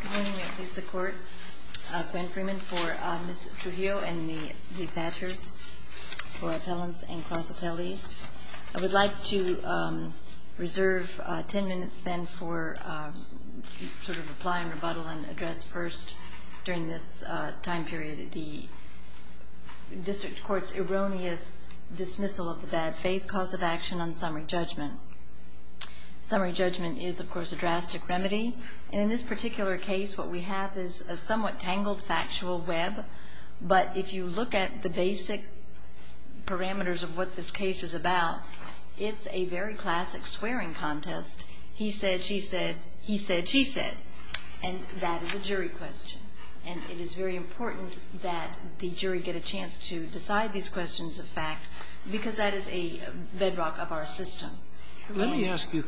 Good morning. I please the court, Gwen Freeman, for Ms. Trujillo and the Thachers for appellants and cross-appellees. I would like to reserve 10 minutes then for sort of reply and rebuttal and address first during this time period the District Court's erroneous dismissal of the bad faith cause of action on summary judgment. Summary judgment is of course a drastic remedy and in this particular case what we have is a somewhat tangled factual web but if you look at the basic parameters of what this case is about, it's a very classic swearing contest. He said, she said, he said, she said and that is a jury question and it is very important that the jury get a chance to decide these questions of fact because that is a bedrock of our system. Let me ask you,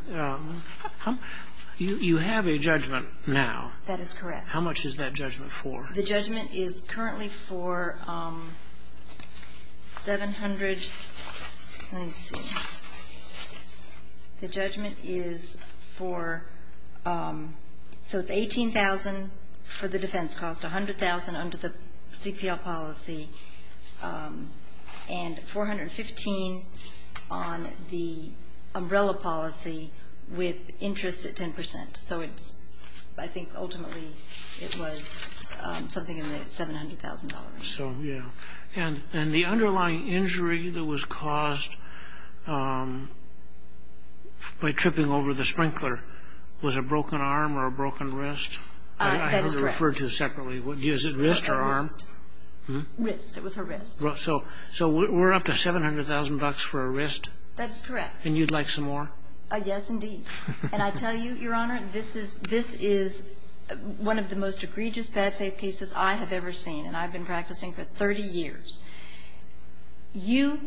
you have a judgment now. That is correct. How much is that judgment for? The judgment is currently for 700, let me see, the judgment is for, so it's 18,000 for the defense cost, 100,000 under the CPL policy and 415 on the umbrella policy with interest at 10%. So it's, I think ultimately it was something in the $700,000 range. So, yeah. And the underlying injury that was caused by tripping over the sprinkler was a broken arm or a broken wrist? That is correct. I refer to separately, is it wrist or arm? Wrist, it was her wrist. So we're up to 700,000 bucks for a wrist? That is correct. And you'd like some more? Yes, indeed. And I tell you, Your Honor, this is one of the most egregious bad faith cases I have ever seen and I've been practicing for 30 years. You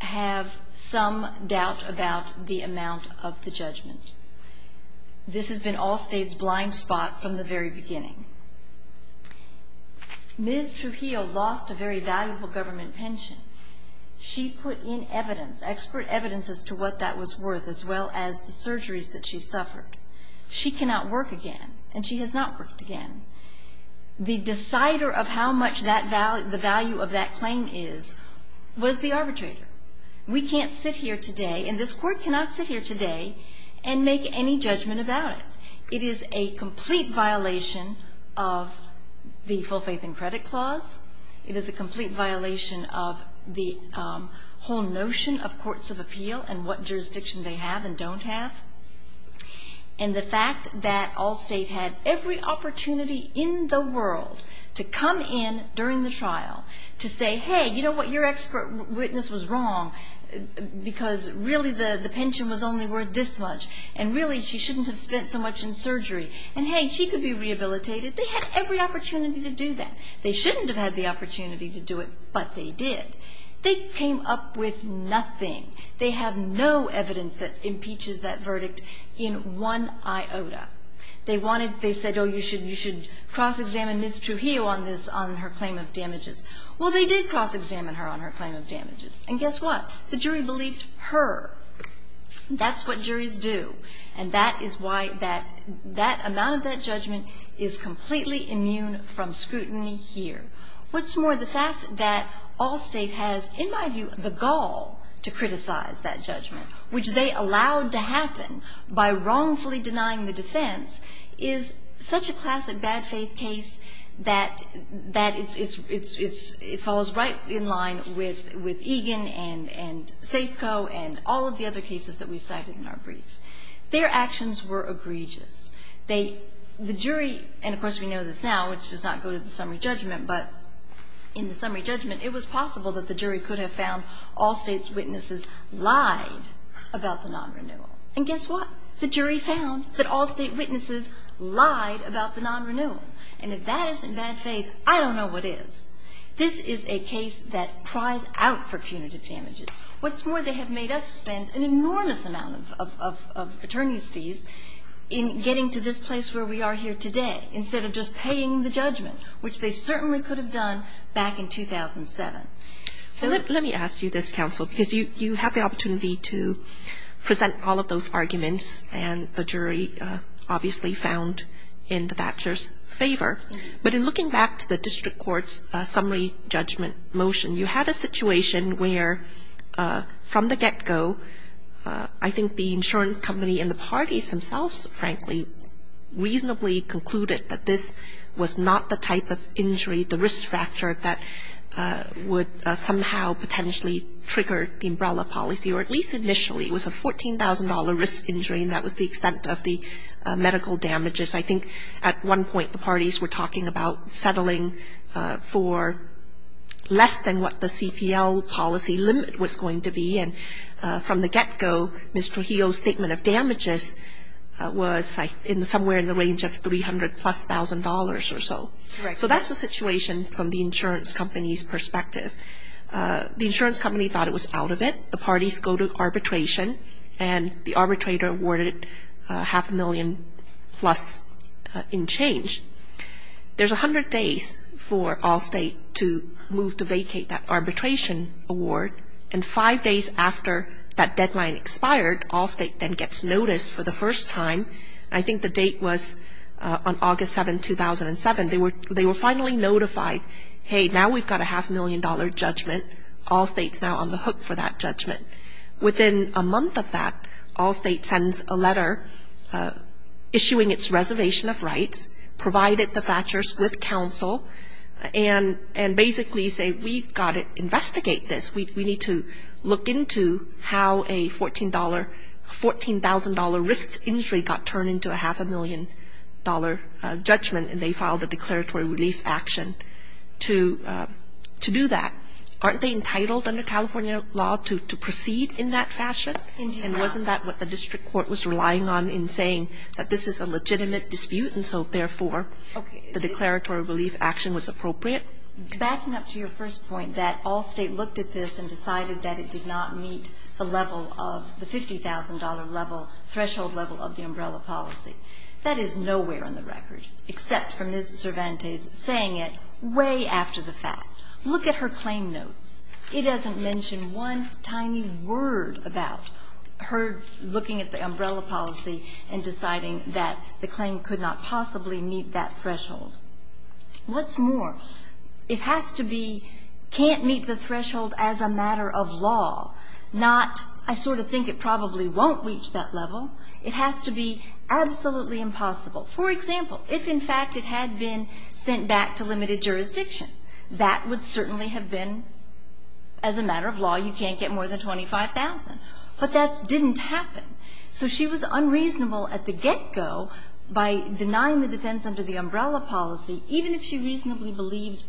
have some doubt about the amount of the judgment. This has been all states' blind spot from the very beginning. Ms. Trujillo lost a very valuable government pension. She put in evidence, expert evidence as to what that was worth as well as the surgeries that she suffered. She cannot work again and she has not worked again. The decider of how much the value of that claim is was the arbitrator. We can't sit here today and this court cannot sit here today and make any judgment about it. It is a complete violation of the full faith and credit clause. It is a complete violation of the whole notion of courts of appeal and what jurisdiction they have and don't have. And the fact that all states had every opportunity in the world to come in during the trial to say, hey, you know what, your expert witness was wrong, because really the pension was only worth this much, and really she shouldn't have spent so much in surgery. And, hey, she could be rehabilitated. They had every opportunity to do that. They shouldn't have had the opportunity to do it, but they did. They came up with nothing. They have no evidence that impeaches that verdict in one iota. They wanted, they said, oh, you should cross-examine Ms. Trujillo on this, on her claim of damages. Well, they did cross-examine her on her claim of damages. And guess what? The jury believed her. That's what juries do. And that is why that amount of that judgment is completely immune from scrutiny here. What's more, the fact that all state has, in my view, the gall to criticize that judgment, which they allowed to happen by wrongfully denying the defense, is such a classic bad faith case that it falls right in line with Egan and Safeco and all of the other cases that we cited in our brief. Their actions were egregious. They, the jury, and of course we know this now, which does not go to the summary judgment, but in the summary judgment it was possible that the jury could have found all state's witnesses lied about the non-renewal. And guess what? The jury found that all state witnesses lied about the non-renewal. And if that isn't bad faith, I don't know what is. This is a case that cries out for punitive damages. What's more, they have made us spend an enormous amount of attorney's fees in getting to this place where we are here today, instead of just paying the judgment, which they certainly could have done back in 2007. Let me ask you this, counsel, because you have the opportunity to present all of those arguments and the jury obviously found in the Thatcher's favor. But in looking back to the district court's summary judgment motion, you had a situation where from the get-go I think the insurance company and the parties themselves frankly reasonably concluded that this was not the type of injury, the risk factor that would somehow potentially trigger the umbrella policy, or at least initially it was a $14,000 risk injury and that was the extent of the medical damages. I think at one point the parties were talking about settling for less than what the CPL policy limit was going to be. And from the get-go, Ms. Trujillo's statement of damages was somewhere in the range of $300,000 plus or so. Correct. So that's the situation from the insurance company's perspective. The insurance company thought it was out of it. The parties go to arbitration and the arbitrator awarded it half a million plus in change. There's 100 days for Allstate to move to vacate that arbitration award, and five days after that deadline expired Allstate then gets notice for the first time. I think the date was on August 7, 2007. They were finally notified, hey, now we've got a half-million-dollar judgment. Allstate's now on the hook for that judgment. Within a month of that, Allstate sends a letter issuing its reservation of rights, provided the Thatcher's with counsel, and basically say we've got to investigate this. We need to look into how a $14,000 risk injury got turned into a half-a-million-dollar judgment, and they filed a declaratory relief action to do that. Aren't they entitled under California law to proceed in that fashion? And wasn't that what the district court was relying on in saying that this is a legitimate dispute and so, therefore, the declaratory relief action was appropriate? Backing up to your first point that Allstate looked at this and decided that it did not meet the level of the $50,000 threshold level of the umbrella policy, that is nowhere on the record, except for Ms. Cervantes saying it way after the fact. Look at her claim notes. It doesn't mention one tiny word about her looking at the umbrella policy and deciding that the claim could not possibly meet that threshold. What's more, it has to be, can't meet the threshold as a matter of law, not, I sort of think it probably won't reach that level. It has to be absolutely impossible. For example, if, in fact, it had been sent back to limited jurisdiction, that would certainly have been, as a matter of law, you can't get more than $25,000. But that didn't happen. So she was unreasonable at the get-go by denying the defense under the umbrella policy, even if she reasonably believed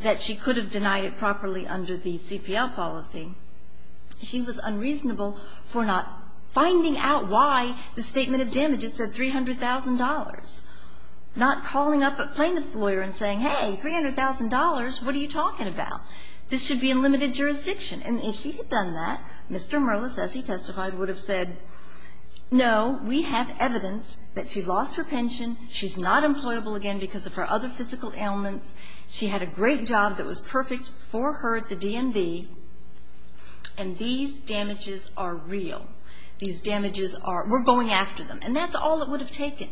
that she could have denied it properly under the CPL policy. She was unreasonable for not finding out why the statement of damages said $300,000, not calling up a plaintiff's lawyer and saying, hey, $300,000, what are you talking about? This should be in limited jurisdiction. And if she had done that, Mr. Merlis, as he testified, would have said, no, we have evidence that she lost her pension, she's not employable again because of her other physical ailments, she had a great job that was perfect for her at the DMV, and these damages are real. These damages are, we're going after them. And that's all it would have taken.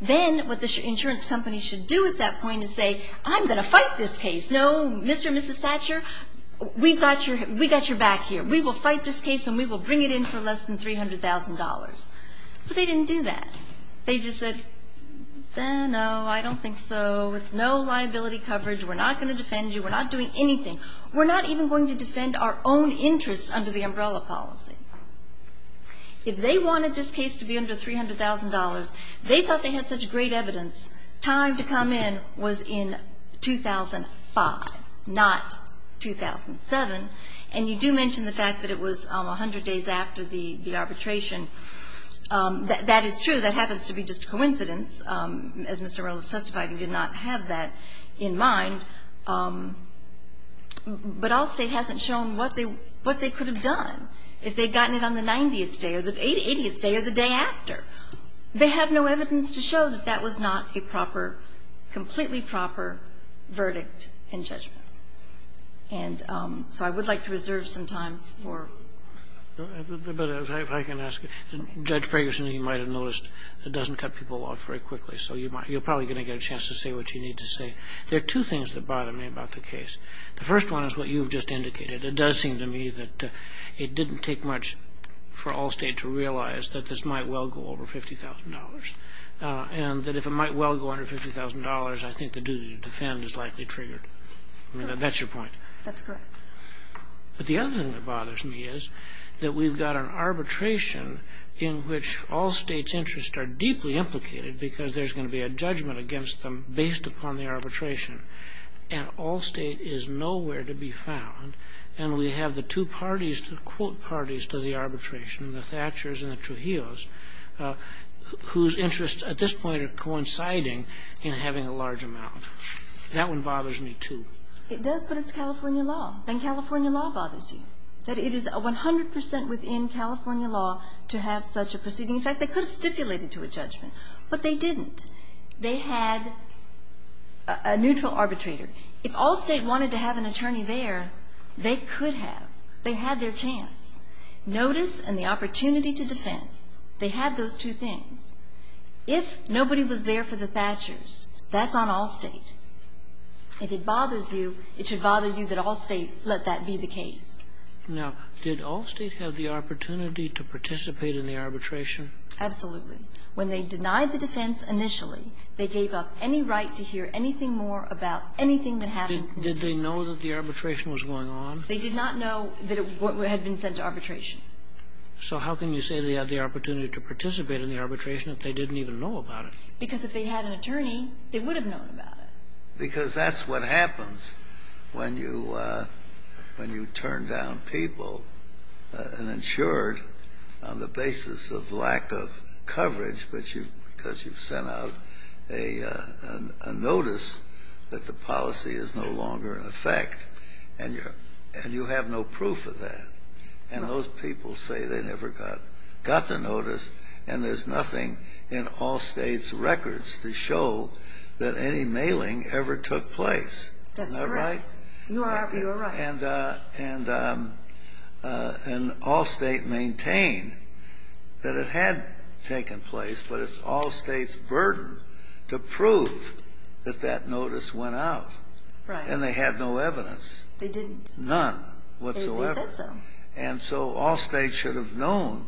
Then what the insurance company should do at that point is say, I'm going to fight this case. No, Mr. and Mrs. Thatcher, we've got your back here. We will fight this case and we will bring it in for less than $300,000. But they didn't do that. They just said, no, I don't think so. It's no liability coverage. We're not going to defend you. We're not doing anything. We're not even going to defend our own interests under the umbrella policy. If they wanted this case to be under $300,000, they thought they had such great evidence. Time to come in was in 2005, not 2007. And you do mention the fact that it was 100 days after the arbitration. That is true. That happens to be just a coincidence. As Mr. Reynolds testified, he did not have that in mind. But Allstate hasn't shown what they could have done if they had gotten it on the 90th day or the 80th day or the day after. They have no evidence to show that that was not a proper, completely proper verdict in judgment. And so I would like to reserve some time for the rest. But if I can ask, Judge Ferguson, you might have noticed it doesn't cut people off very quickly. So you're probably going to get a chance to say what you need to say. There are two things that bother me about the case. The first one is what you've just indicated. It does seem to me that it didn't take much for Allstate to realize that this might well go over $50,000. And that if it might well go under $50,000, I think the duty to defend is likely triggered. That's your point. That's correct. But the other thing that bothers me is that we've got an arbitration in which Allstate's interests are deeply implicated because there's going to be a judgment against them based upon the arbitration. And Allstate is nowhere to be found. And we have the two parties, the quote parties, to the arbitration, the Thatchers and the Trujillos, whose interests at this point are coinciding in having a large amount. That one bothers me, too. It does, but it's California law. And California law bothers you, that it is 100 percent within California law to have such a proceeding. In fact, they could have stipulated to a judgment, but they didn't. They had a neutral arbitrator. If Allstate wanted to have an attorney there, they could have. They had their chance. Notice and the opportunity to defend, they had those two things. If nobody was there for the Thatchers, that's on Allstate. If it bothers you, it should bother you that Allstate let that be the case. Now, did Allstate have the opportunity to participate in the arbitration? Absolutely. When they denied the defense initially, they gave up any right to hear anything more about anything that happened. Did they know that the arbitration was going on? They did not know that it had been sent to arbitration. So how can you say they had the opportunity to participate in the arbitration if they didn't even know about it? Because if they had an attorney, they would have known about it. Because that's what happens when you turn down people and insure it on the basis of lack of coverage, because you've sent out a notice that the policy is no longer in effect, and you have no proof of that. And those people say they never got the notice, and there's nothing in Allstate's records to show that any mailing ever took place. Isn't that right? That's correct. You are right. And Allstate maintained that it had taken place, but it's Allstate's burden to prove that that notice went out. Right. And they had no evidence. They didn't. None whatsoever. They said so. And so Allstate should have known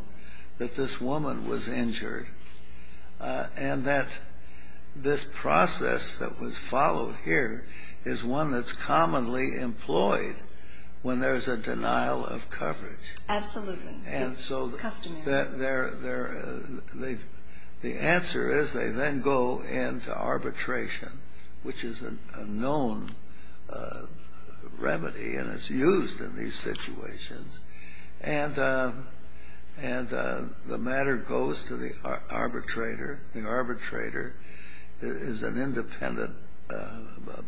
that this woman was injured and that this process that was followed here is one that's commonly employed when there's a denial of coverage. Absolutely. It's customary. The answer is they then go into arbitration, which is a known remedy, and it's used in these situations. And the matter goes to the arbitrator. The arbitrator is an independent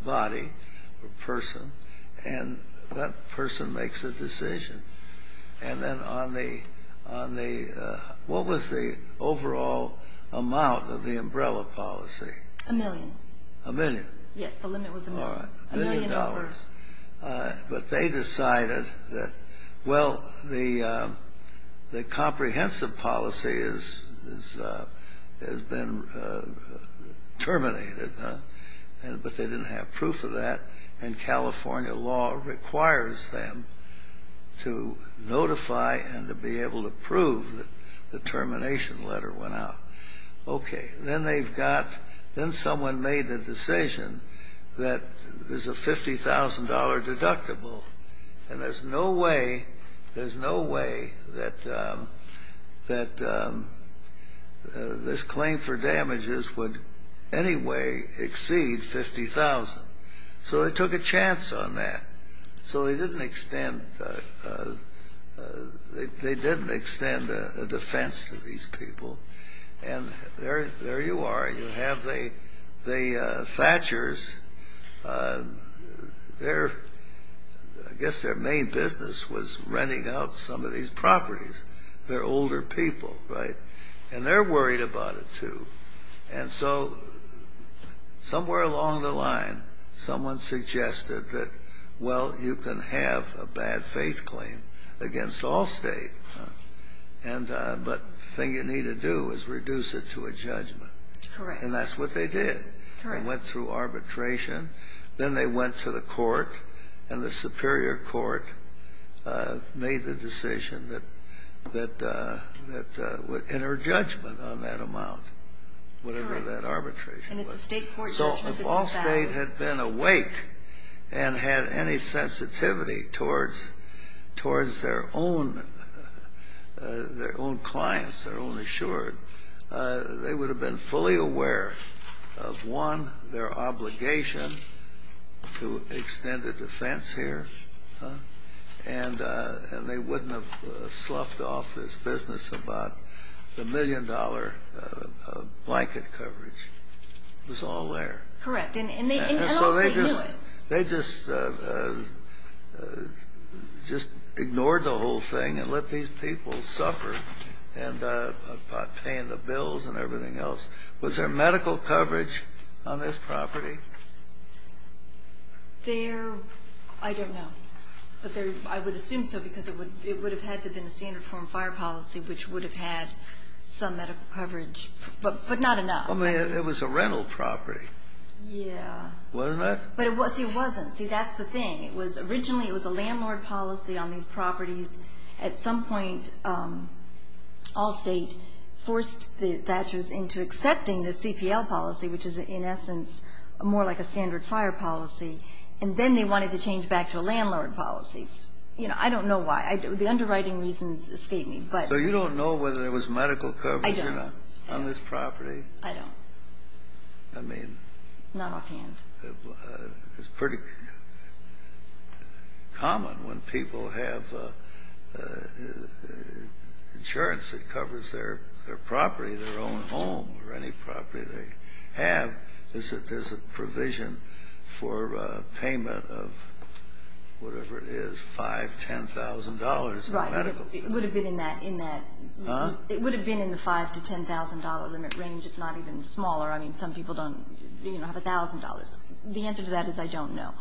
body or person, and that person makes a decision. And then on the what was the overall amount of the umbrella policy? A million. A million? Yes, the limit was a million. All right. A million dollars. But they decided that, well, the comprehensive policy has been terminated, but they didn't have proof of that. And California law requires them to notify and to be able to prove that the termination letter went out. Okay. Then they've got Then someone made the decision that there's a $50,000 deductible, and there's no way that this claim for damages would anyway exceed 50,000. So they took a chance on that. So they didn't extend a defense to these people. And there you are. You have the Thatchers. I guess their main business was renting out some of these properties. They're older people, right? And they're worried about it, too. And so somewhere along the line, someone suggested that, well, you can have a bad faith claim against all state, but the thing you need to do is reduce it to a judgment. Correct. And that's what they did. They went through arbitration. Then they went to the court, and the superior court made the decision that would enter judgment on that amount, whatever that arbitration was. Correct. And it's a State court judgment. So if all State had been awake and had any sensitivity towards their own clients, their own assured, they would have been fully aware of, one, their obligation to extend a defense here, and they wouldn't have sloughed off this business about the million-dollar blanket coverage. It was all there. Correct. And also they knew it. And so they just ignored the whole thing and let these people suffer by paying the bills and everything else. Was there medical coverage on this property? There, I don't know. But I would assume so because it would have had to have been a standard form fire policy, which would have had some medical coverage, but not enough. I mean, it was a rental property. Yeah. Wasn't it? But, see, it wasn't. See, that's the thing. It was originally, it was a landlord policy on these properties. At some point, all State forced the Thatchers into accepting the CPL policy, which is, in essence, more like a standard fire policy, and then they wanted to change back to a landlord policy. You know, I don't know why. The underwriting reasons escape me. So you don't know whether there was medical coverage on this property? I don't. I mean. Not offhand. It's pretty common when people have insurance that covers their property, their own home or any property they have, is that there's a provision for payment of whatever it is, $5,000, $10,000 in medical. Right. It would have been in that. Huh? It would have been in the $5,000 to $10,000 limit range, if not even smaller. I mean, some people don't, you know, have $1,000. The answer to that is I don't know.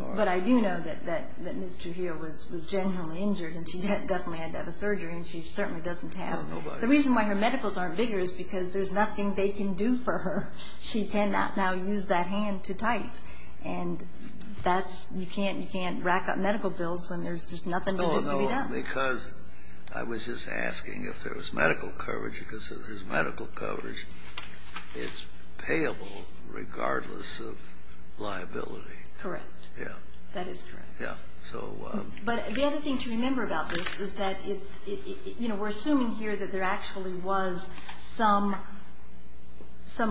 All right. But I do know that Ms. Trujillo was genuinely injured and she definitely had to have a surgery, and she certainly doesn't have. Nobody. The reason why her medicals aren't bigger is because there's nothing they can do for her. She cannot now use that hand to type. And that's you can't rack up medical bills when there's just nothing to do to read up. Oh, no, because I was just asking if there was medical coverage. Because if there's medical coverage, it's payable regardless of liability. Correct. Yeah. That is correct. Yeah. So. But the other thing to remember about this is that it's, you know, we're assuming here that there actually was some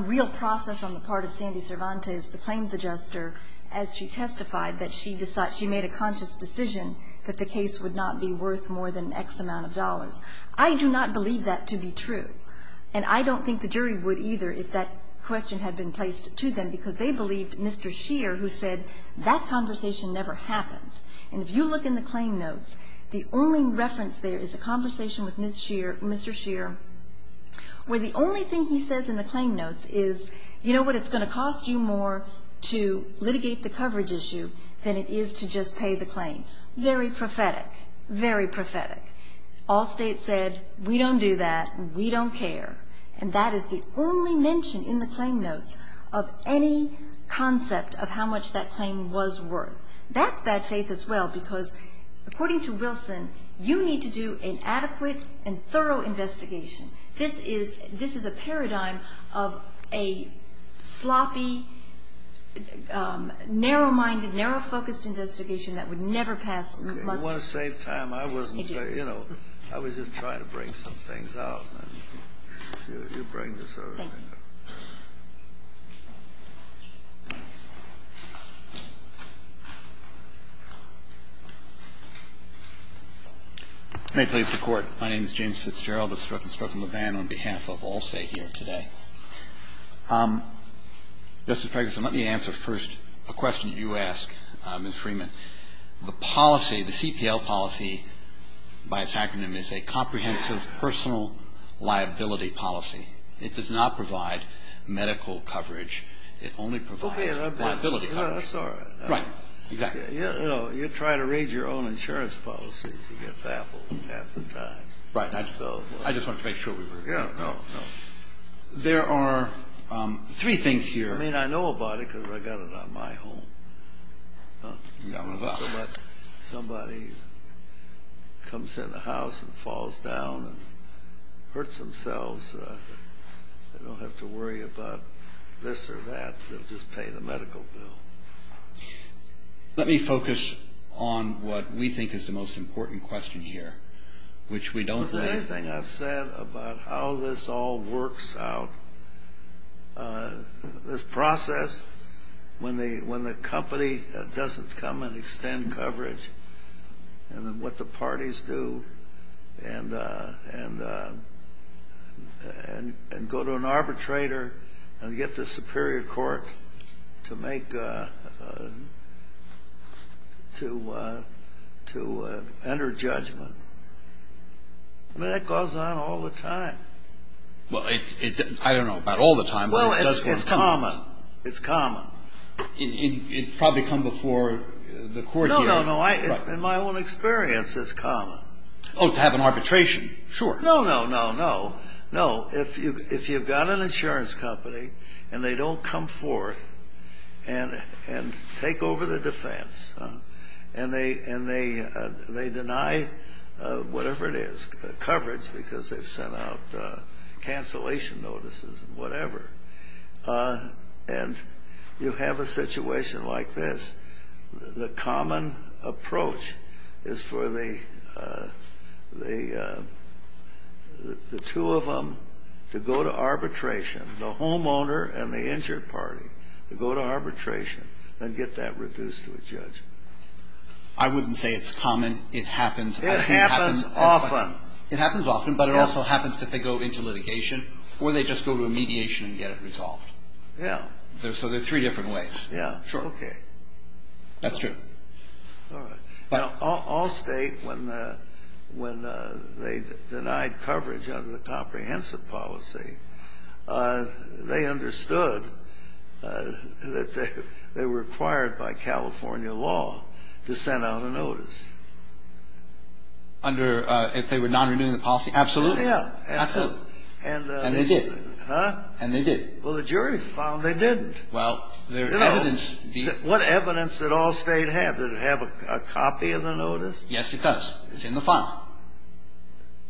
real process on the part of Sandy Cervantes, the claims adjuster, as she testified, that she made a conscious decision that the case would not be worth more than X amount of dollars. I do not believe that to be true. And I don't think the jury would either if that question had been placed to them, because they believed Mr. Scheer, who said that conversation never happened. And if you look in the claim notes, the only reference there is a conversation with Mr. Scheer where the only thing he says in the claim notes is, you know what, it's going to cost you more to litigate the coverage issue than it is to just pay the claim. Very prophetic. Very prophetic. All state said, we don't do that. We don't care. And that is the only mention in the claim notes of any concept of how much that claim was worth. That's bad faith as well, because according to Wilson, you need to do an adequate and thorough investigation. This is a paradigm of a sloppy, narrow-minded, narrow-focused investigation that would never pass. You want to save time. I wasn't. I was just trying to bring some things out. You bring this over. Thank you. May it please the Court. My name is James Fitzgerald. I'm with Strzok & Strzok & Levin on behalf of Allstate here today. Justice Ferguson, let me answer first a question you ask, Ms. Freeman. The policy, the CPL policy, by its acronym, is a comprehensive personal liability policy. It does not provide medical coverage. It only provides liability coverage. Okay. That's all right. Right. Exactly. You know, you try to raise your own insurance policy if you get baffled half the time. Right. I just wanted to make sure we were clear. No, no, no. There are three things here. I mean, I know about it because I got it on my home. You got one as well. Somebody comes in the house and falls down and hurts themselves, they don't have to worry about this or that. They'll just pay the medical bill. Let me focus on what we think is the most important question here, which we don't believe. Is there anything I've said about how this all works out? This process, when the company doesn't come and extend coverage and what the parties do and go to an arbitrator and get the superior court to make, to enter judgment. I mean, that goes on all the time. Well, I don't know about all the time, but it does go on. Well, it's common. It's common. It probably comes before the court hearing. No, no, no. In my own experience, it's common. Oh, to have an arbitration. Sure. No, no, no, no. No. If you've got an insurance company and they don't come forth and take over the defense and they deny whatever it is, coverage, because they've sent out cancellation notices and whatever, and you have a situation like this, the common approach is for the two of them to go to arbitration, the homeowner and the injured party, to go to arbitration and get that reduced to a judgment. I wouldn't say it's common. It happens. It happens often. It happens often, but it also happens that they go into litigation or they just go to a mediation and get it resolved. Yeah. So there are three different ways. Yeah. Sure. Okay. That's true. All right. Now, Allstate, when they denied coverage under the comprehensive policy, they understood that they were required by California law to send out a notice. Under if they were not renewing the policy. Absolutely. Yeah. Absolutely. And they did. Huh? And they did. Well, the jury found they didn't. Well, their evidence. What evidence did Allstate have? Did it have a copy of the notice? Yes, it does. It's in the file.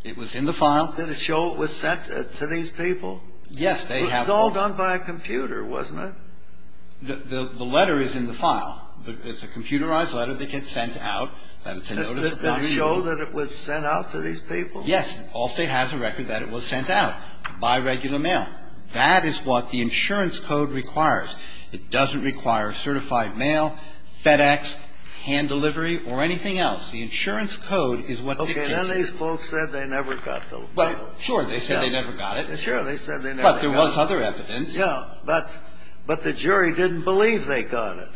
It was in the file. Did it show it was sent to these people? Yes. It was all done by a computer, wasn't it? The letter is in the file. It's a computerized letter that gets sent out. Did it show that it was sent out to these people? Yes. Allstate has a record that it was sent out by regular mail. That is what the insurance code requires. It doesn't require certified mail, FedEx, hand delivery, or anything else. The insurance code is what indicates it. Okay. None of these folks said they never got the notice. Well, sure. They said they never got it. Sure. They said they never got it. But there was other evidence. Yeah. But the jury didn't believe they got it.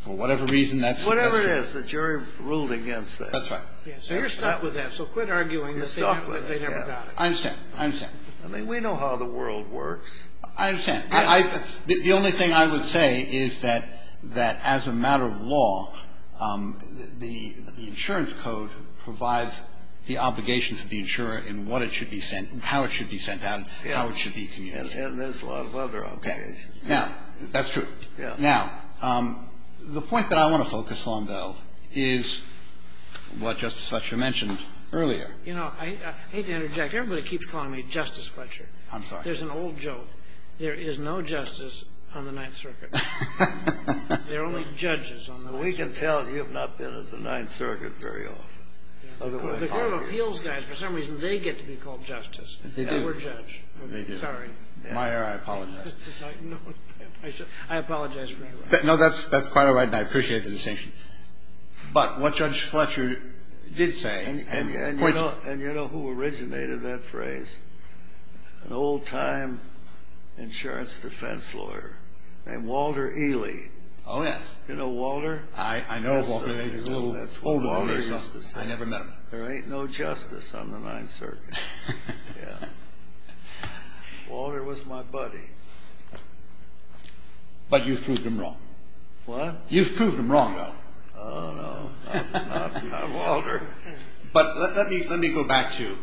For whatever reason that's suggested. Whatever it is, the jury ruled against it. That's right. So you're stuck with that. So quit arguing that they never got it. I understand. I mean, we know how the world works. I understand. The only thing I would say is that as a matter of law, the insurance code provides the obligations to the insurer in what it should be sent, how it should be sent out, how it should be communicated. And there's a lot of other obligations. Okay. Now, that's true. Now, the point that I want to focus on, though, is what Justice Fletcher mentioned earlier. You know, I hate to interject. Everybody keeps calling me Justice Fletcher. I'm sorry. There's an old joke. There is no justice on the Ninth Circuit. There are only judges on the Ninth Circuit. We can tell you've not been at the Ninth Circuit very often. The court of appeals guys, for some reason, they get to be called justice. They were judged. Sorry. Meyer, I apologize. I apologize for interrupting. No, that's quite all right, and I appreciate the distinction. But what Judge Fletcher did say, and you know who originated that phrase? An old-time insurance defense lawyer named Walter Ely. Oh, yes. You know Walter? I know Walter. He's a little older than me. That's what Walter used to say. I never met him. There ain't no justice on the Ninth Circuit. Yeah. Walter was my buddy. But you've proved him wrong. What? You've proved him wrong, though. Oh, no. I'm not Walter. But let me go back to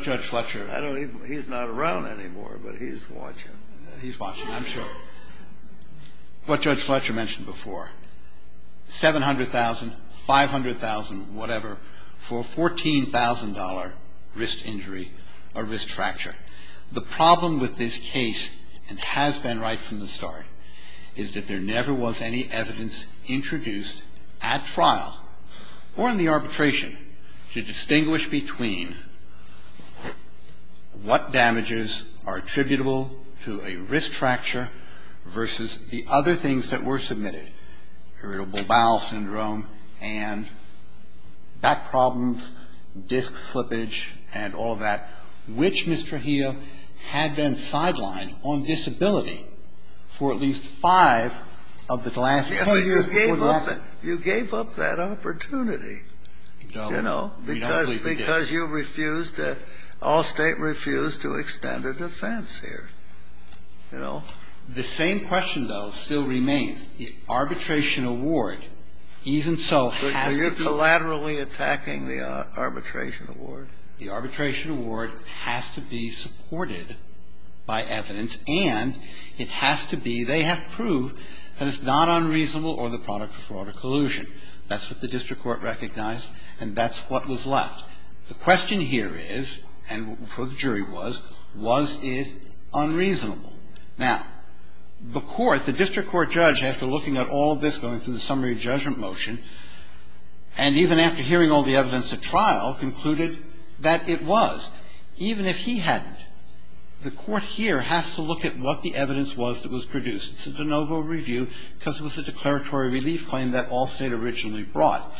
Judge Fletcher. He's not around anymore, but he's watching. He's watching, I'm sure. What Judge Fletcher mentioned before, $700,000, $500,000, whatever, for a $14,000 wrist injury or wrist fracture. The problem with this case, and has been right from the start, is that there never was any evidence introduced at trial or in the arbitration to distinguish between what damages are attributable to a wrist fracture versus the other things that were submitted, irritable bowel syndrome and back problems, disc slippage, and all of that, which, Mr. Heal, had been sidelined on disability for at least five of the last ten years. You gave up that opportunity, you know, because you refused to, Allstate refused to extend a defense here, you know. The same question, though, still remains. The arbitration award, even so, has to be. Are you collaterally attacking the arbitration award? The arbitration award has to be supported by evidence, and it has to be, they have to prove that it's not unreasonable or the product of fraud or collusion. That's what the district court recognized, and that's what was left. The question here is, and what the jury was, was it unreasonable? Now, the court, the district court judge, after looking at all of this going through the summary judgment motion, and even after hearing all the evidence at trial, concluded that it was, even if he hadn't. The court here has to look at what the evidence was that was produced. It's a de novo review, because it was a declaratory relief claim that Allstate originally brought.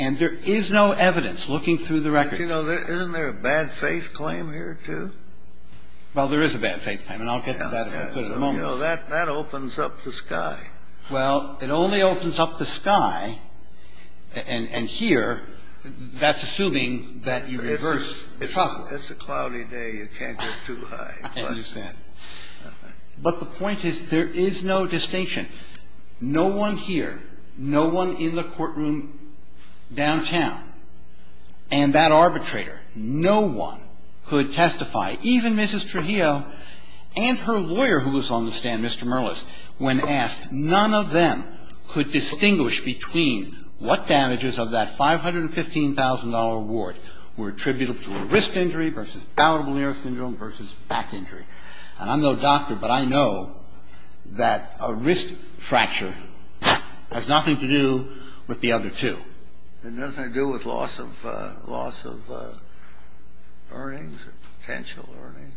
And there is no evidence, looking through the record. But, you know, isn't there a bad faith claim here, too? Well, there is a bad faith claim, and I'll get to that in a moment. You know, that opens up the sky. Well, it only opens up the sky, and here, that's assuming that you reverse the problem. It's a cloudy day. You can't go too high. I understand. But the point is, there is no distinction. No one here, no one in the courtroom downtown, and that arbitrator, no one could testify, even Mrs. Trujillo and her lawyer who was on the stand, Mr. Merlis, when asked, none of them could distinguish between what damages of that $515,000 award were attributed to a wrist injury versus palatable nerve syndrome versus back injury. And I'm no doctor, but I know that a wrist fracture has nothing to do with the other two. It doesn't have to do with loss of earnings or potential earnings,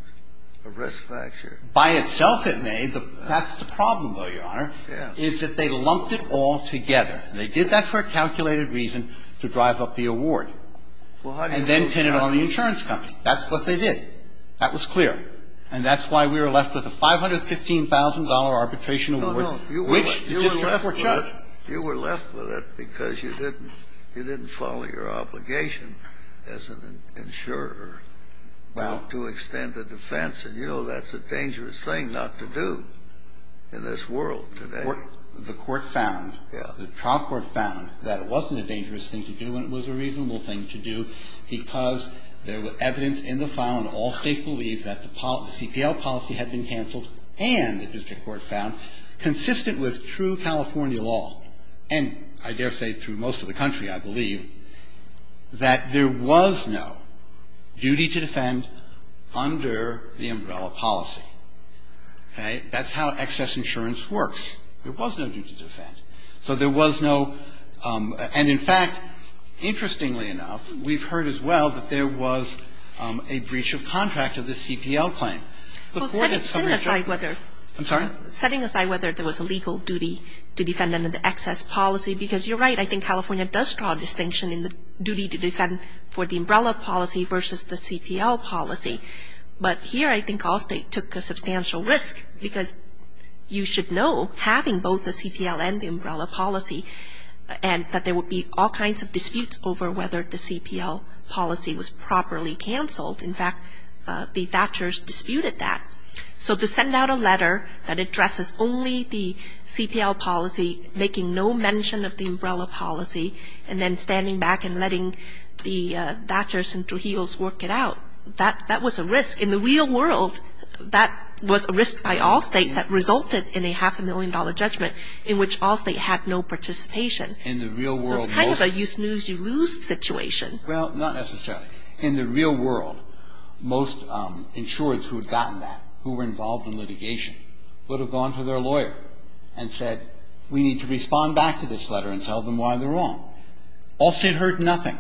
a wrist fracture. By itself, it may. That's the problem, though, Your Honor, is that they lumped it all together. They did that for a calculated reason to drive up the award. And then pin it on the insurance company. That's what they did. That was clear. And that's why we were left with a $515,000 arbitration award, which the district court judged. No, no. You were left with it because you didn't follow your obligation as an insurer to extend the defense. And, you know, that's a dangerous thing not to do in this world today. The court found, the trial court found that it wasn't a dangerous thing to do and it was a reasonable thing to do. Because there was evidence in the file and all states believed that the CPL policy had been canceled and the district court found, consistent with true California law, and I dare say through most of the country, I believe, that there was no duty to defend under the umbrella policy. Okay? That's how excess insurance works. There was no duty to defend. So there was no, and in fact, interestingly enough, we've heard as well that there was a breach of contract of the CPL claim. Setting aside whether there was a legal duty to defend under the excess policy, because you're right, I think California does draw a distinction in the duty to defend for the umbrella policy versus the CPL policy. But here I think all states took a substantial risk because you should know having both the CPL and the umbrella policy and that there would be all kinds of disputes over whether the CPL policy was properly canceled. In fact, the Thatchers disputed that. So to send out a letter that addresses only the CPL policy, making no mention of the umbrella policy, and then standing back and letting the Thatchers and Trujillos work it out, that was a risk. In the real world, that was a risk by all states that resulted in a half a million dollar judgment in which all states had no participation. So it's kind of a you snooze, you lose situation. Well, not necessarily. In the real world, most insurers who had gotten that, who were involved in litigation, would have gone to their lawyer and said we need to respond back to this letter and tell them why they're wrong. All states heard nothing.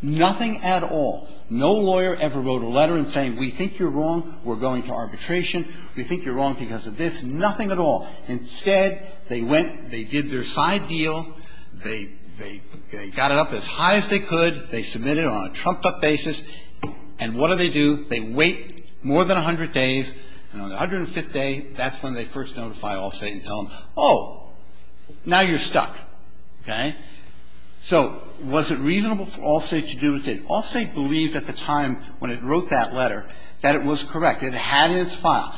Nothing at all. No lawyer ever wrote a letter saying we think you're wrong, we're going to arbitration, we think you're wrong because of this. Nothing at all. Instead, they went, they did their side deal, they got it up as high as they could, they submitted it on a trumped-up basis, and what do they do? They wait more than 100 days, and on the 105th day, that's when they first notify all states and tell them, oh, now you're stuck. Okay? So was it reasonable for all states to do what they did? All states believed at the time when it wrote that letter that it was correct, it had in its file.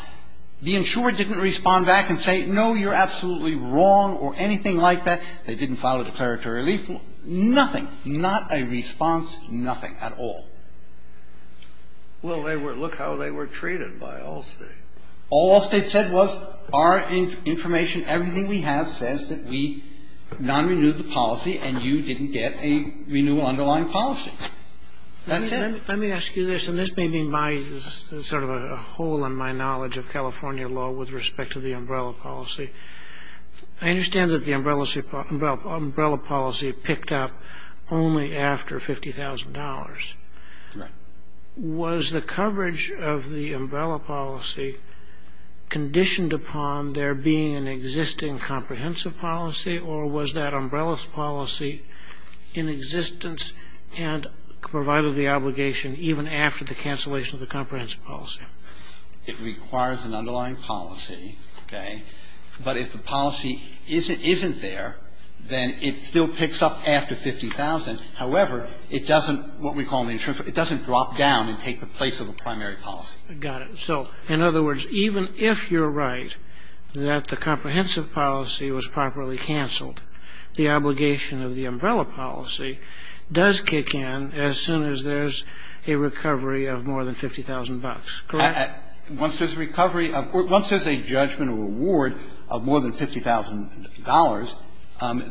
The insurer didn't respond back and say, no, you're absolutely wrong or anything like that. They didn't file a declaratory relief. Nothing. Not a response. Nothing at all. Well, they were, look how they were treated by all states. All all states said was our information, everything we have says that we non-renewed the policy and you didn't get a renewal underlying policy. That's it. Let me ask you this, and this may be my sort of a hole in my knowledge of California law with respect to the umbrella policy. I understand that the umbrella policy picked up only after $50,000. Correct. Was the coverage of the umbrella policy conditioned upon there being an existing comprehensive policy, or was that umbrella policy in existence and provided the obligation even after the cancellation of the comprehensive policy? It requires an underlying policy. Okay? But if the policy isn't there, then it still picks up after $50,000. However, it doesn't, what we call the insurance, it doesn't drop down and take the place of the primary policy. Got it. So in other words, even if you're right that the comprehensive policy was properly canceled, the obligation of the umbrella policy does kick in as soon as there's a recovery of more than $50,000. Correct? Once there's a recovery of or once there's a judgment or reward of more than $50,000,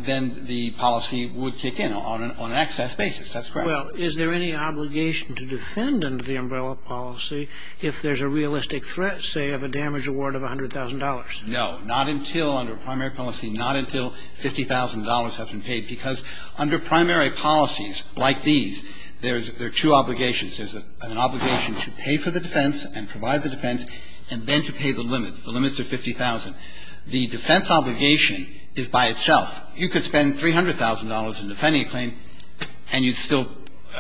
then the policy would kick in on an excess basis. That's correct. Well, is there any obligation to defend under the umbrella policy if there's a realistic threat, say, of a damage award of $100,000? No. Not until under primary policy, not until $50,000 have been paid. Because under primary policies like these, there's two obligations. There's an obligation to pay for the defense and provide the defense and then to pay the limits. The limits are $50,000. The defense obligation is by itself. You could spend $300,000 in defending a claim and you'd still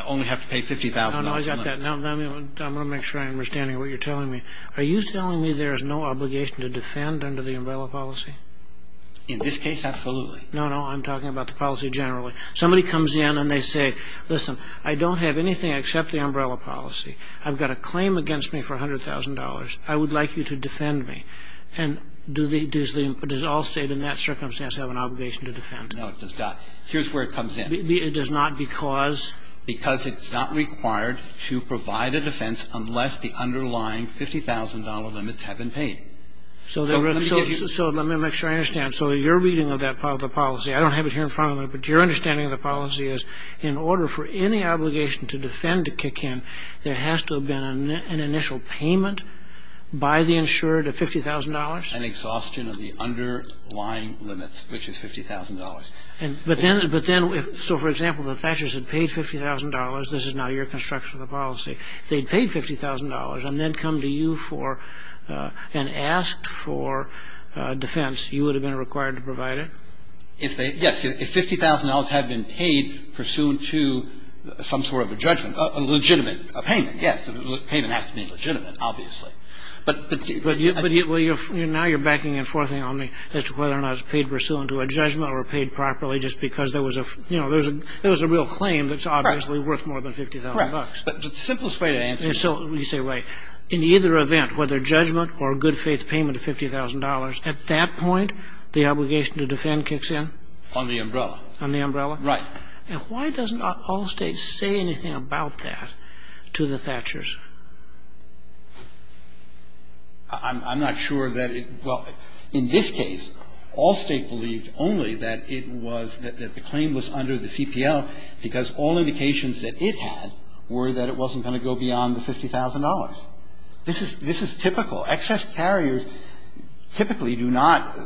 only have to pay $50,000. No, no, I got that. I'm going to make sure I'm understanding what you're telling me. Are you telling me there's no obligation to defend under the umbrella policy? In this case, absolutely. No, no, I'm talking about the policy generally. Somebody comes in and they say, listen, I don't have anything except the umbrella policy. I've got a claim against me for $100,000. I would like you to defend me. And does all State in that circumstance have an obligation to defend? No, it does not. Here's where it comes in. It does not because? Because it's not required to provide a defense unless the underlying $50,000 limits have been paid. So let me make sure I understand. So your reading of the policy, I don't have it here in front of me, but your understanding of the policy is in order for any obligation to defend to kick in, there has to have been an initial payment by the insured of $50,000? An exhaustion of the underlying limits, which is $50,000. But then, so for example, the Thatchers had paid $50,000. This is now your construction of the policy. If they had paid $50,000 and then come to you for and asked for defense, you would have been required to provide it? Yes. I'm asking if $50,000 had been paid pursuant to some sort of a judgment, a legitimate payment, yes. A payment has to be legitimate, obviously. But do you... But now you're backing and forthing on me as to whether or not it's paid pursuant to a judgment or paid properly just because there was a, you know, there was a real claim that's obviously worth more than $50,000. Correct. But the simplest way to answer... And so you say, right. In either event, whether judgment or good faith payment of $50,000, at that point the obligation to defend kicks in? On the umbrella. On the umbrella? Right. And why doesn't Allstate say anything about that to the Thatchers? I'm not sure that it... Well, in this case, Allstate believed only that it was, that the claim was under the CPL because all indications that it had were that it wasn't going to go beyond the $50,000. This is typical. Excess carriers typically do not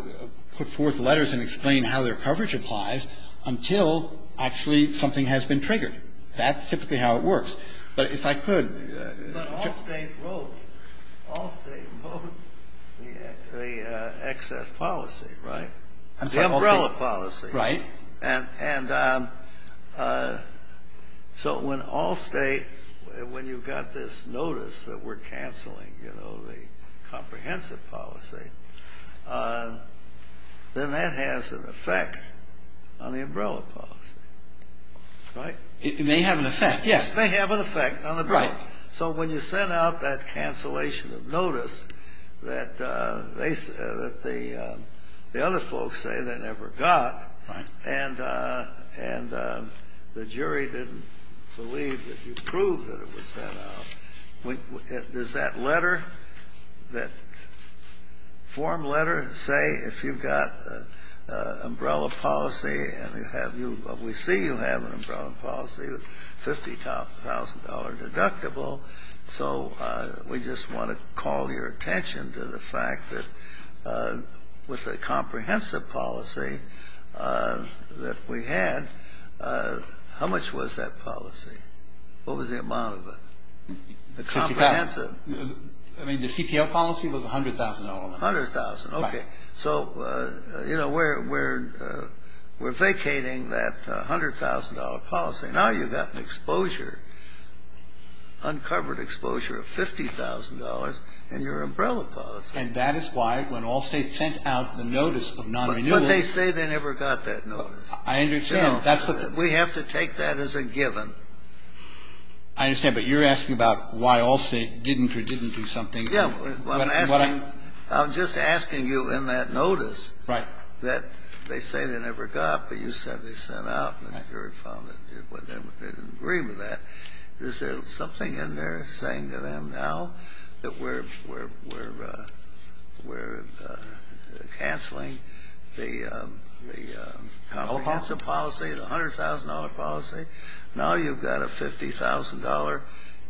put forth letters and explain how their coverage applies until actually something has been triggered. That's typically how it works. But if I could... But Allstate wrote, Allstate wrote the excess policy, right? The umbrella policy. Right. And so when Allstate, when you got this notice that we're canceling, you know, the comprehensive policy, then that has an effect on the umbrella policy. Right? It may have an effect, yes. It may have an effect on the umbrella. Right. So when you send out that cancellation of notice that the other folks say they never got... Right. ...and the jury didn't believe that you proved that it was sent out, does that letter, that form letter say if you've got an umbrella policy and you have, we see you have an umbrella policy, $50,000 deductible, so we just want to call your attention to the fact that with the comprehensive policy that we had, how much was that policy? What was the amount of it? The $50,000. Comprehensive. I mean, the CPL policy was $100,000. $100,000. Right. Okay. So, you know, we're vacating that $100,000 policy. Now you've got an exposure, uncovered exposure of $50,000 in your umbrella policy. And that is why when Allstate sent out the notice of non-renewal... But they say they never got that notice. I understand. We have to take that as a given. I understand. But you're asking about why Allstate didn't or didn't do something. Yeah. What I'm... I'm just asking you in that notice... Right. ...that they say they never got, but you said they sent out and the jury found that they didn't agree with that. Is there something in there saying to them now that we're cancelling the comprehensive policy, the $100,000 policy? Now you've got a $50,000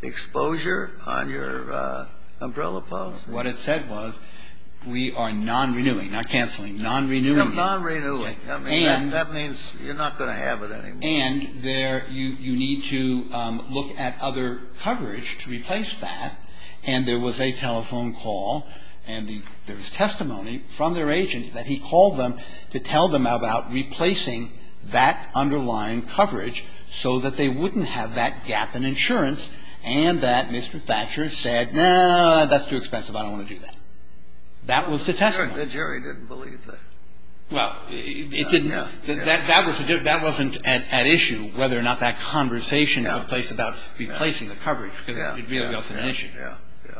exposure on your umbrella policy. What it said was we are non-renewing, not cancelling, non-renewing. Non-renewing. That means you're not going to have it anymore. And you need to look at other coverage to replace that. And there was a telephone call and there was testimony from their agent that he called them to tell them about replacing that underlying coverage so that they wouldn't have that gap in insurance and that Mr. Thatcher said, no, no, no, that's too expensive. I don't want to do that. That was the testimony. The jury didn't believe that. Well, it didn't... Yeah. ...that wasn't at issue whether or not that conversation took place about replacing the coverage because it really was an issue. Yeah. Yeah.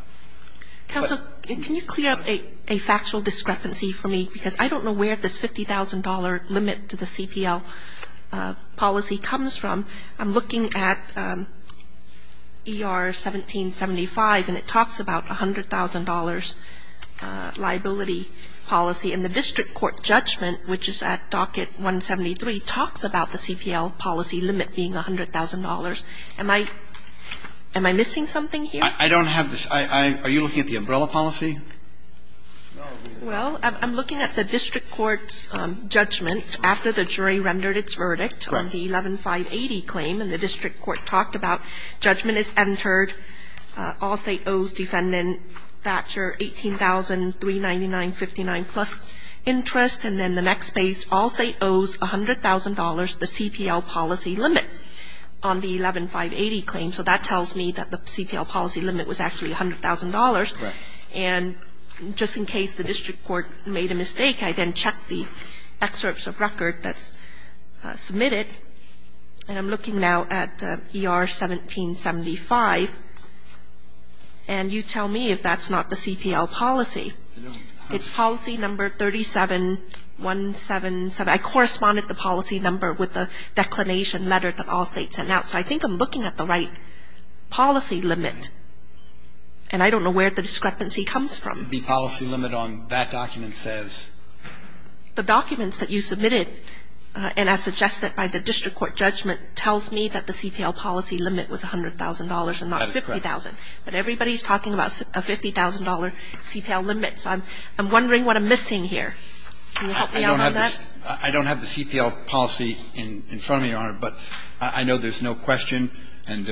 Counsel, can you clear up a factual discrepancy for me? Because I don't know where this $50,000 limit to the CPL policy comes from. I'm looking at ER 1775 and it talks about $100,000 liability policy. And the district court judgment, which is at docket 173, talks about the CPL policy limit being $100,000. Am I missing something here? I don't have this. Are you looking at the umbrella policy? Well, I'm looking at the district court's judgment after the jury rendered its verdict on the 11580 claim. And the district court talked about judgment is entered. All State owes Defendant Thatcher $18,399.59 plus interest. And then the next page, All State owes $100,000 the CPL policy limit on the 11580 claim. So that tells me that the CPL policy limit was actually $100,000. And just in case the district court made a mistake, I then checked the excerpts of record that's submitted. And I'm looking now at ER 1775. And you tell me if that's not the CPL policy. It's policy number 37177. I corresponded the policy number with the declination letter that All State sent out. So I think I'm looking at the right policy limit. And I don't know where the discrepancy comes from. The policy limit on that document says? The documents that you submitted and as suggested by the district court judgment tells me that the CPL policy limit was $100,000 and not $50,000. That is correct. But everybody's talking about a $50,000 CPL limit. So I'm wondering what I'm missing here. Can you help me out on that? I don't have the CPL policy in front of me, Your Honor. But I know there's no question and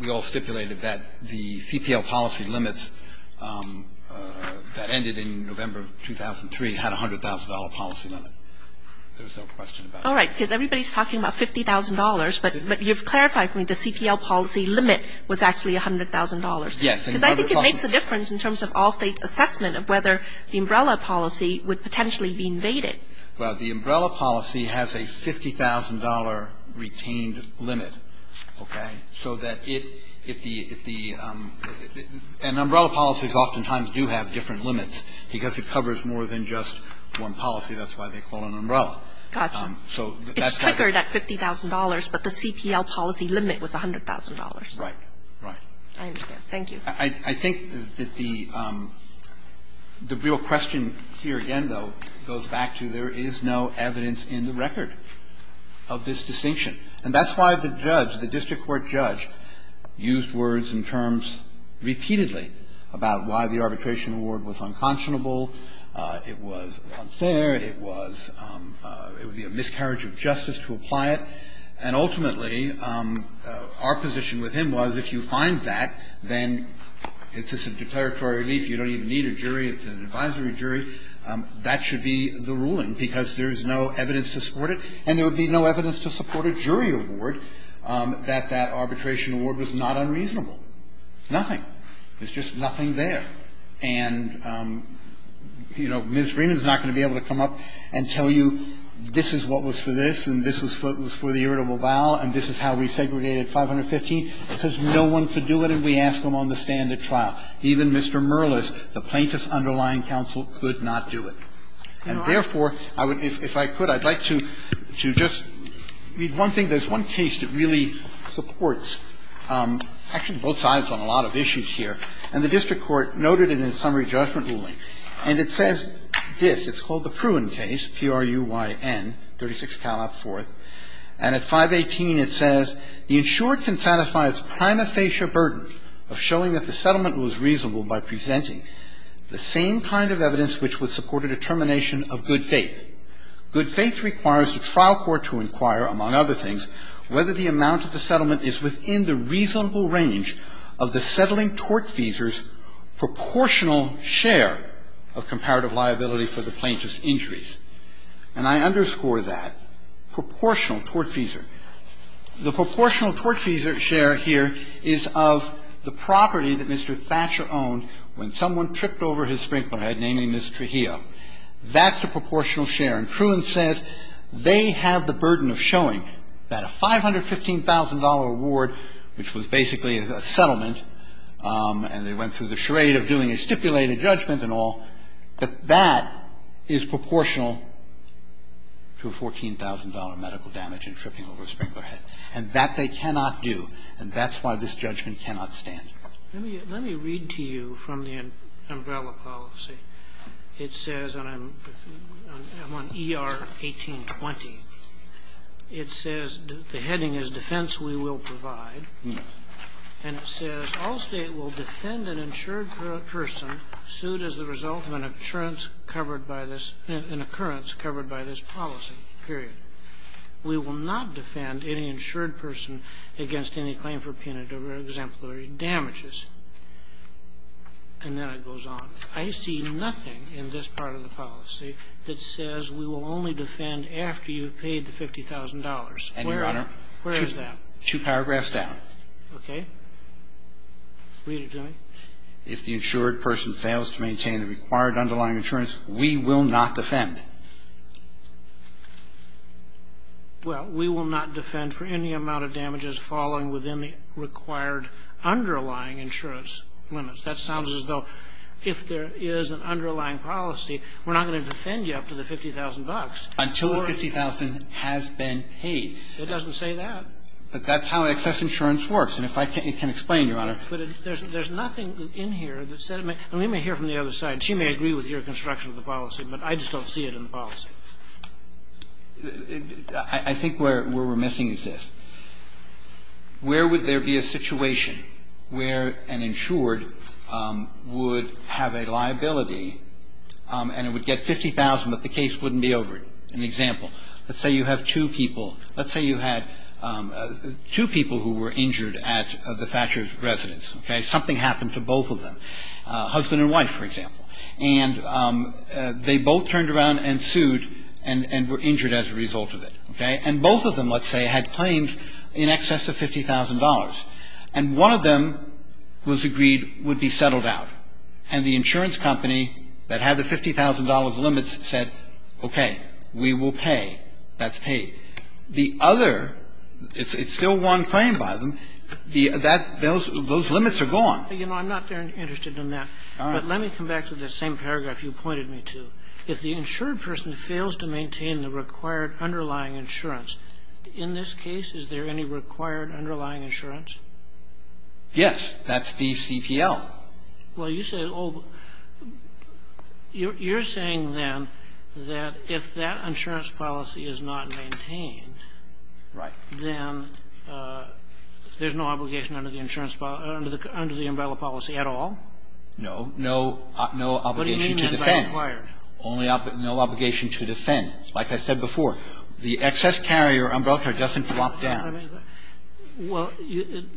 we all stipulated that the CPL policy limits that ended in November of 2003 had a $100,000 policy limit. There's no question about it. All right. Because everybody's talking about $50,000, but you've clarified for me the CPL policy limit was actually $100,000. Yes. Because I think it makes a difference in terms of All State's assessment of whether the umbrella policy would potentially be invaded. Well, the umbrella policy has a $50,000 retained limit. Okay? So that if the umbrella policies oftentimes do have different limits because it covers more than just one policy. That's why they call it an umbrella. Gotcha. It's triggered at $50,000, but the CPL policy limit was $100,000. Right. I understand. Thank you. I think that the real question here again, though, goes back to there is no evidence in the record of this distinction. And that's why the judge, the district court judge, used words and terms repeatedly about why the arbitration award was unconscionable. It was unfair. It was, it would be a miscarriage of justice to apply it. And ultimately, our position with him was if you find that, then it's a declaratory relief. You don't even need a jury. It's an advisory jury. That should be the ruling because there's no evidence to support it. And there would be no evidence to support a jury award that that arbitration award was not unreasonable. Nothing. There's just nothing there. And, you know, Ms. Freeman is not going to be able to come up and tell you this is what was for this, and this is what was for the irritable bowel, and this is how we segregated 515. It says no one could do it, and we ask them on the stand at trial. Even Mr. Merlis, the plaintiff's underlying counsel, could not do it. And therefore, I would, if I could, I'd like to just read one thing. There's one case that really supports actually both sides on a lot of issues here. And the district court noted it in the summary judgment ruling. And it says this. It's called the Pruin case, P-R-U-Y-N, 36 Calab, 4th. And at 518, it says, And I underscore that. Proportional tortfeasor. The proportional tortfeasor share here is of the property that Mr. Thatcher owned when someone tripped over his sprinkler head, namely Ms. Trujillo. That's the proportional share. And Pruin says they have the burden of showing that a $515,000 award, which was basically a settlement, and they went through the charade of doing a stipulated judgment and all, that that is proportional to a $14,000 medical damage in tripping over a sprinkler head. And that they cannot do. And that's why this judgment cannot stand. Let me read to you from the umbrella policy. It says, and I'm on ER 1820, it says the heading is Defense We Will Provide. And it says, All State will defend an insured person sued as the result of an insurance covered by this an occurrence covered by this policy, period. We will not defend any insured person against any claim for penitentiary exemplary damages. And then it goes on. I see nothing in this part of the policy that says we will only defend after you've paid the $50,000. Where is that? And, Your Honor, two paragraphs down. Okay? Read it to me. If the insured person fails to maintain the required underlying insurance, we will not defend. Well, we will not defend for any amount of damages falling within the required underlying insurance limits. That sounds as though if there is an underlying policy, we're not going to defend you up to the $50,000. Until the $50,000 has been paid. It doesn't say that. But that's how excess insurance works. And if I can explain, Your Honor. But there's nothing in here that says we may hear from the other side. She may agree with your construction of the policy, but I just don't see it in the policy. I think where we're missing is this. Where would there be a situation where an insured would have a liability and it would get $50,000, but the case wouldn't be over it? An example. Let's say you have two people. Let's say you had two people who were injured at the Thatcher's residence, okay? Something happened to both of them, husband and wife, for example. And they both turned around and sued and were injured as a result of it, okay? And both of them, let's say, had claims in excess of $50,000. And one of them was agreed would be settled out. And the insurance company that had the $50,000 limits said, okay, we will pay. That's paid. The other, it's still one claim by them, that those limits are gone. You know, I'm not interested in that. All right. But let me come back to the same paragraph you pointed me to. If the insured person fails to maintain the required underlying insurance, in this case, is there any required underlying insurance? Yes. That's the CPL. Well, you say, oh, you're saying then that if that insurance policy is not maintained, then there's no obligation under the insurance policy, under the umbrella policy at all? No obligation to defend. What do you mean by required? No obligation to defend. Like I said before, the excess carrier umbrella doesn't drop down. Well,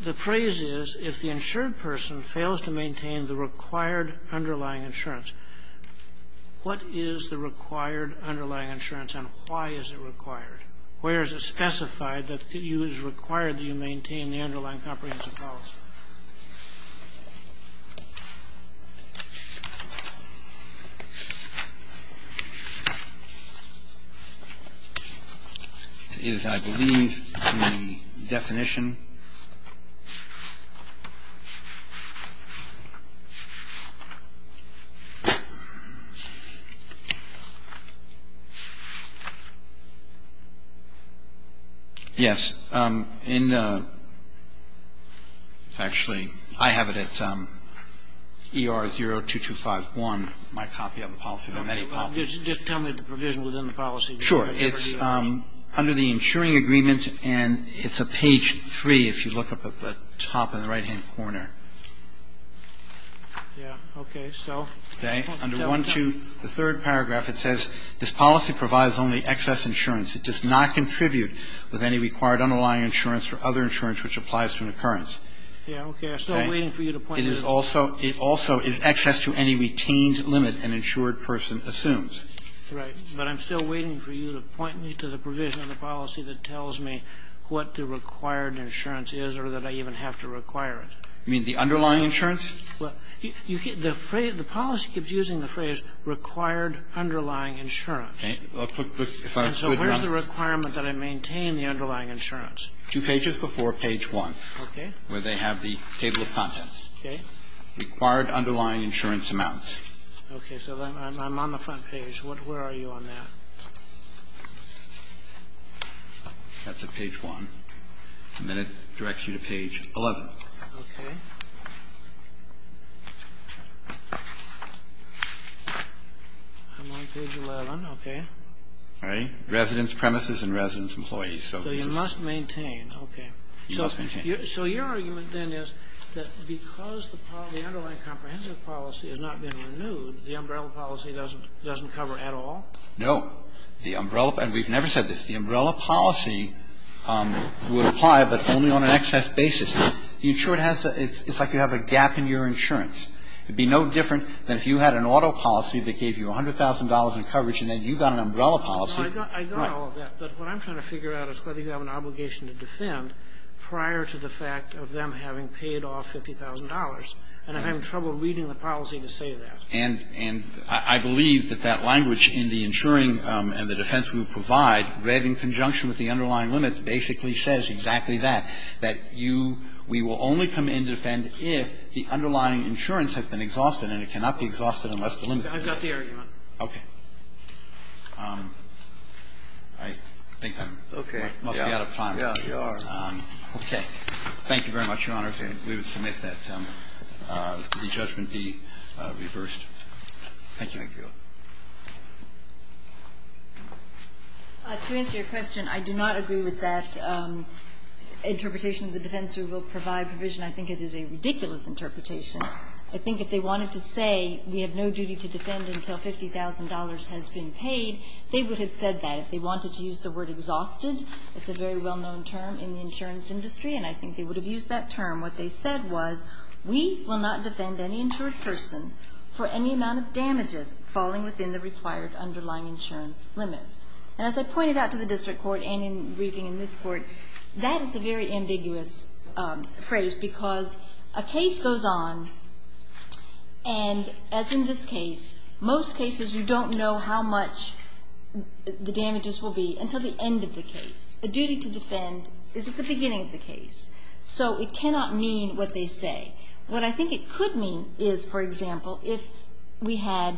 the phrase is, if the insured person fails to maintain the required underlying insurance, what is the required underlying insurance and why is it required? Where is it specified that it is required that you maintain the underlying comprehensive policy? Is, I believe, the definition. Yes. I have it at ER0-2251, my copy of the policy. Just tell me the provision within the policy. Sure. It's under the insuring agreement and it's a page 3 if you look up at the top in the right-hand corner. Yeah. Okay. So? Okay. Under 1-2, the third paragraph, it says, This policy provides only excess insurance. It does not contribute with any required underlying insurance or other insurance which applies to an occurrence. Yeah. Okay. I'm still waiting for you to point to this. It is also, it also is excess to any retained limit an insured person assumes. Right. But I'm still waiting for you to point me to the provision of the policy that tells me what the required insurance is or that I even have to require it. You mean the underlying insurance? Well, the phrase, the policy keeps using the phrase required underlying insurance. Okay. So where's the requirement that I maintain the underlying insurance? Two pages before page 1. Okay. Where they have the table of contents. Okay. Required underlying insurance amounts. Okay. So I'm on the front page. Where are you on that? That's at page 1. And then it directs you to page 11. Okay. I'm on page 11. Okay. All right. Residents, premises, and residents, employees. So you must maintain. Okay. You must maintain. So your argument then is that because the underlying comprehensive policy has not been renewed, the umbrella policy doesn't cover at all? No. The umbrella, and we've never said this, the umbrella policy would apply, but only on an excess basis. The insurer has to, it's like you have a gap in your insurance. It would be no different than if you had an auto policy that gave you $100,000 in coverage and then you got an umbrella policy. No, I got all of that. But what I'm trying to figure out is whether you have an obligation to defend prior to the fact of them having paid off $50,000. And I'm having trouble reading the policy to say that. And I believe that that language in the insuring and the defense we provide, read in conjunction with the underlying limits, basically says exactly that, that you, we will only come in to defend if the underlying insurance has been exhausted and it cannot be exhausted unless delimited. I've got the argument. Okay. I think I'm. Okay. Must be out of time. Yeah, you are. Okay. Thank you very much, Your Honor. We would submit that the judgment be reversed. Thank you. To answer your question, I do not agree with that. Interpretation of the defense we will provide provision. I think it is a ridiculous interpretation. I think if they wanted to say we have no duty to defend until $50,000 has been paid, they would have said that. If they wanted to use the word exhausted, it's a very well-known term in the insurance industry, and I think they would have used that term. What they said was we will not defend any insured person for any amount of damages falling within the required underlying insurance limits. And as I pointed out to the district court and in the briefing in this court, that is a very ambiguous phrase because a case goes on, and as in this case, most cases you don't know how much the damages will be until the end of the case. The duty to defend is at the beginning of the case. So it cannot mean what they say. What I think it could mean is, for example, if we had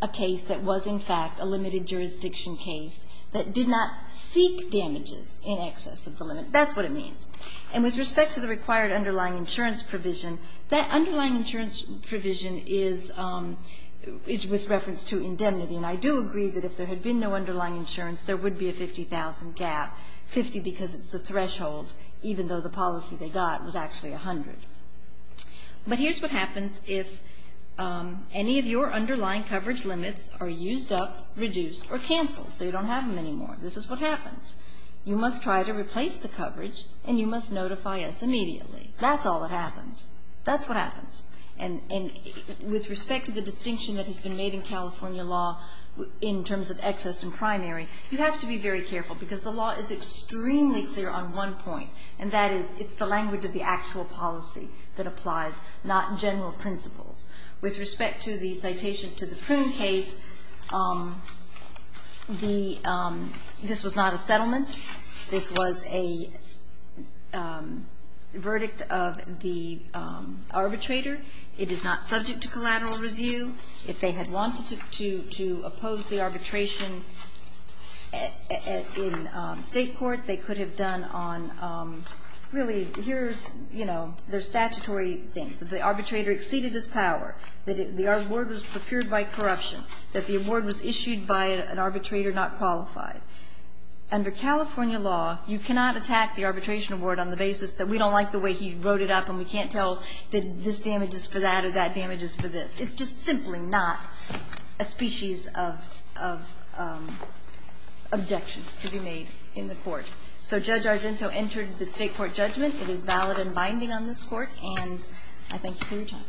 a case that was in fact a limited jurisdiction case that did not seek damages in excess of the limit, that's what it means. And with respect to the required underlying insurance provision, that underlying insurance provision is with reference to indemnity. And I do agree that if there had been no underlying insurance, there would be a 50,000 gap, 50 because it's a threshold, even though the policy they got was actually But here's what happens if any of your underlying coverage limits are used up, reduced or canceled, so you don't have them anymore. This is what happens. You must try to replace the coverage, and you must notify us immediately. That's all that happens. That's what happens. And with respect to the distinction that has been made in California law in terms of excess and primary, you have to be very careful because the law is extremely clear on one point, and that is it's the language of the actual policy that applies, not general principles. With respect to the citation to the Prune case, this was not a settlement. This was a verdict of the arbitrator. It is not subject to collateral review. If they had wanted to oppose the arbitration in State court, they could have done on, really, here's, you know, their statutory things, that the arbitrator exceeded his power, that the award was procured by corruption, that the award was issued by an arbitrator not qualified. Under California law, you cannot attack the arbitration award on the basis that we don't like the way he wrote it up and we can't tell that this damage is for that or that or simply not a species of objection to be made in the court. So Judge Argento entered the State court judgment. It is valid and binding on this court, and I thank you for your time.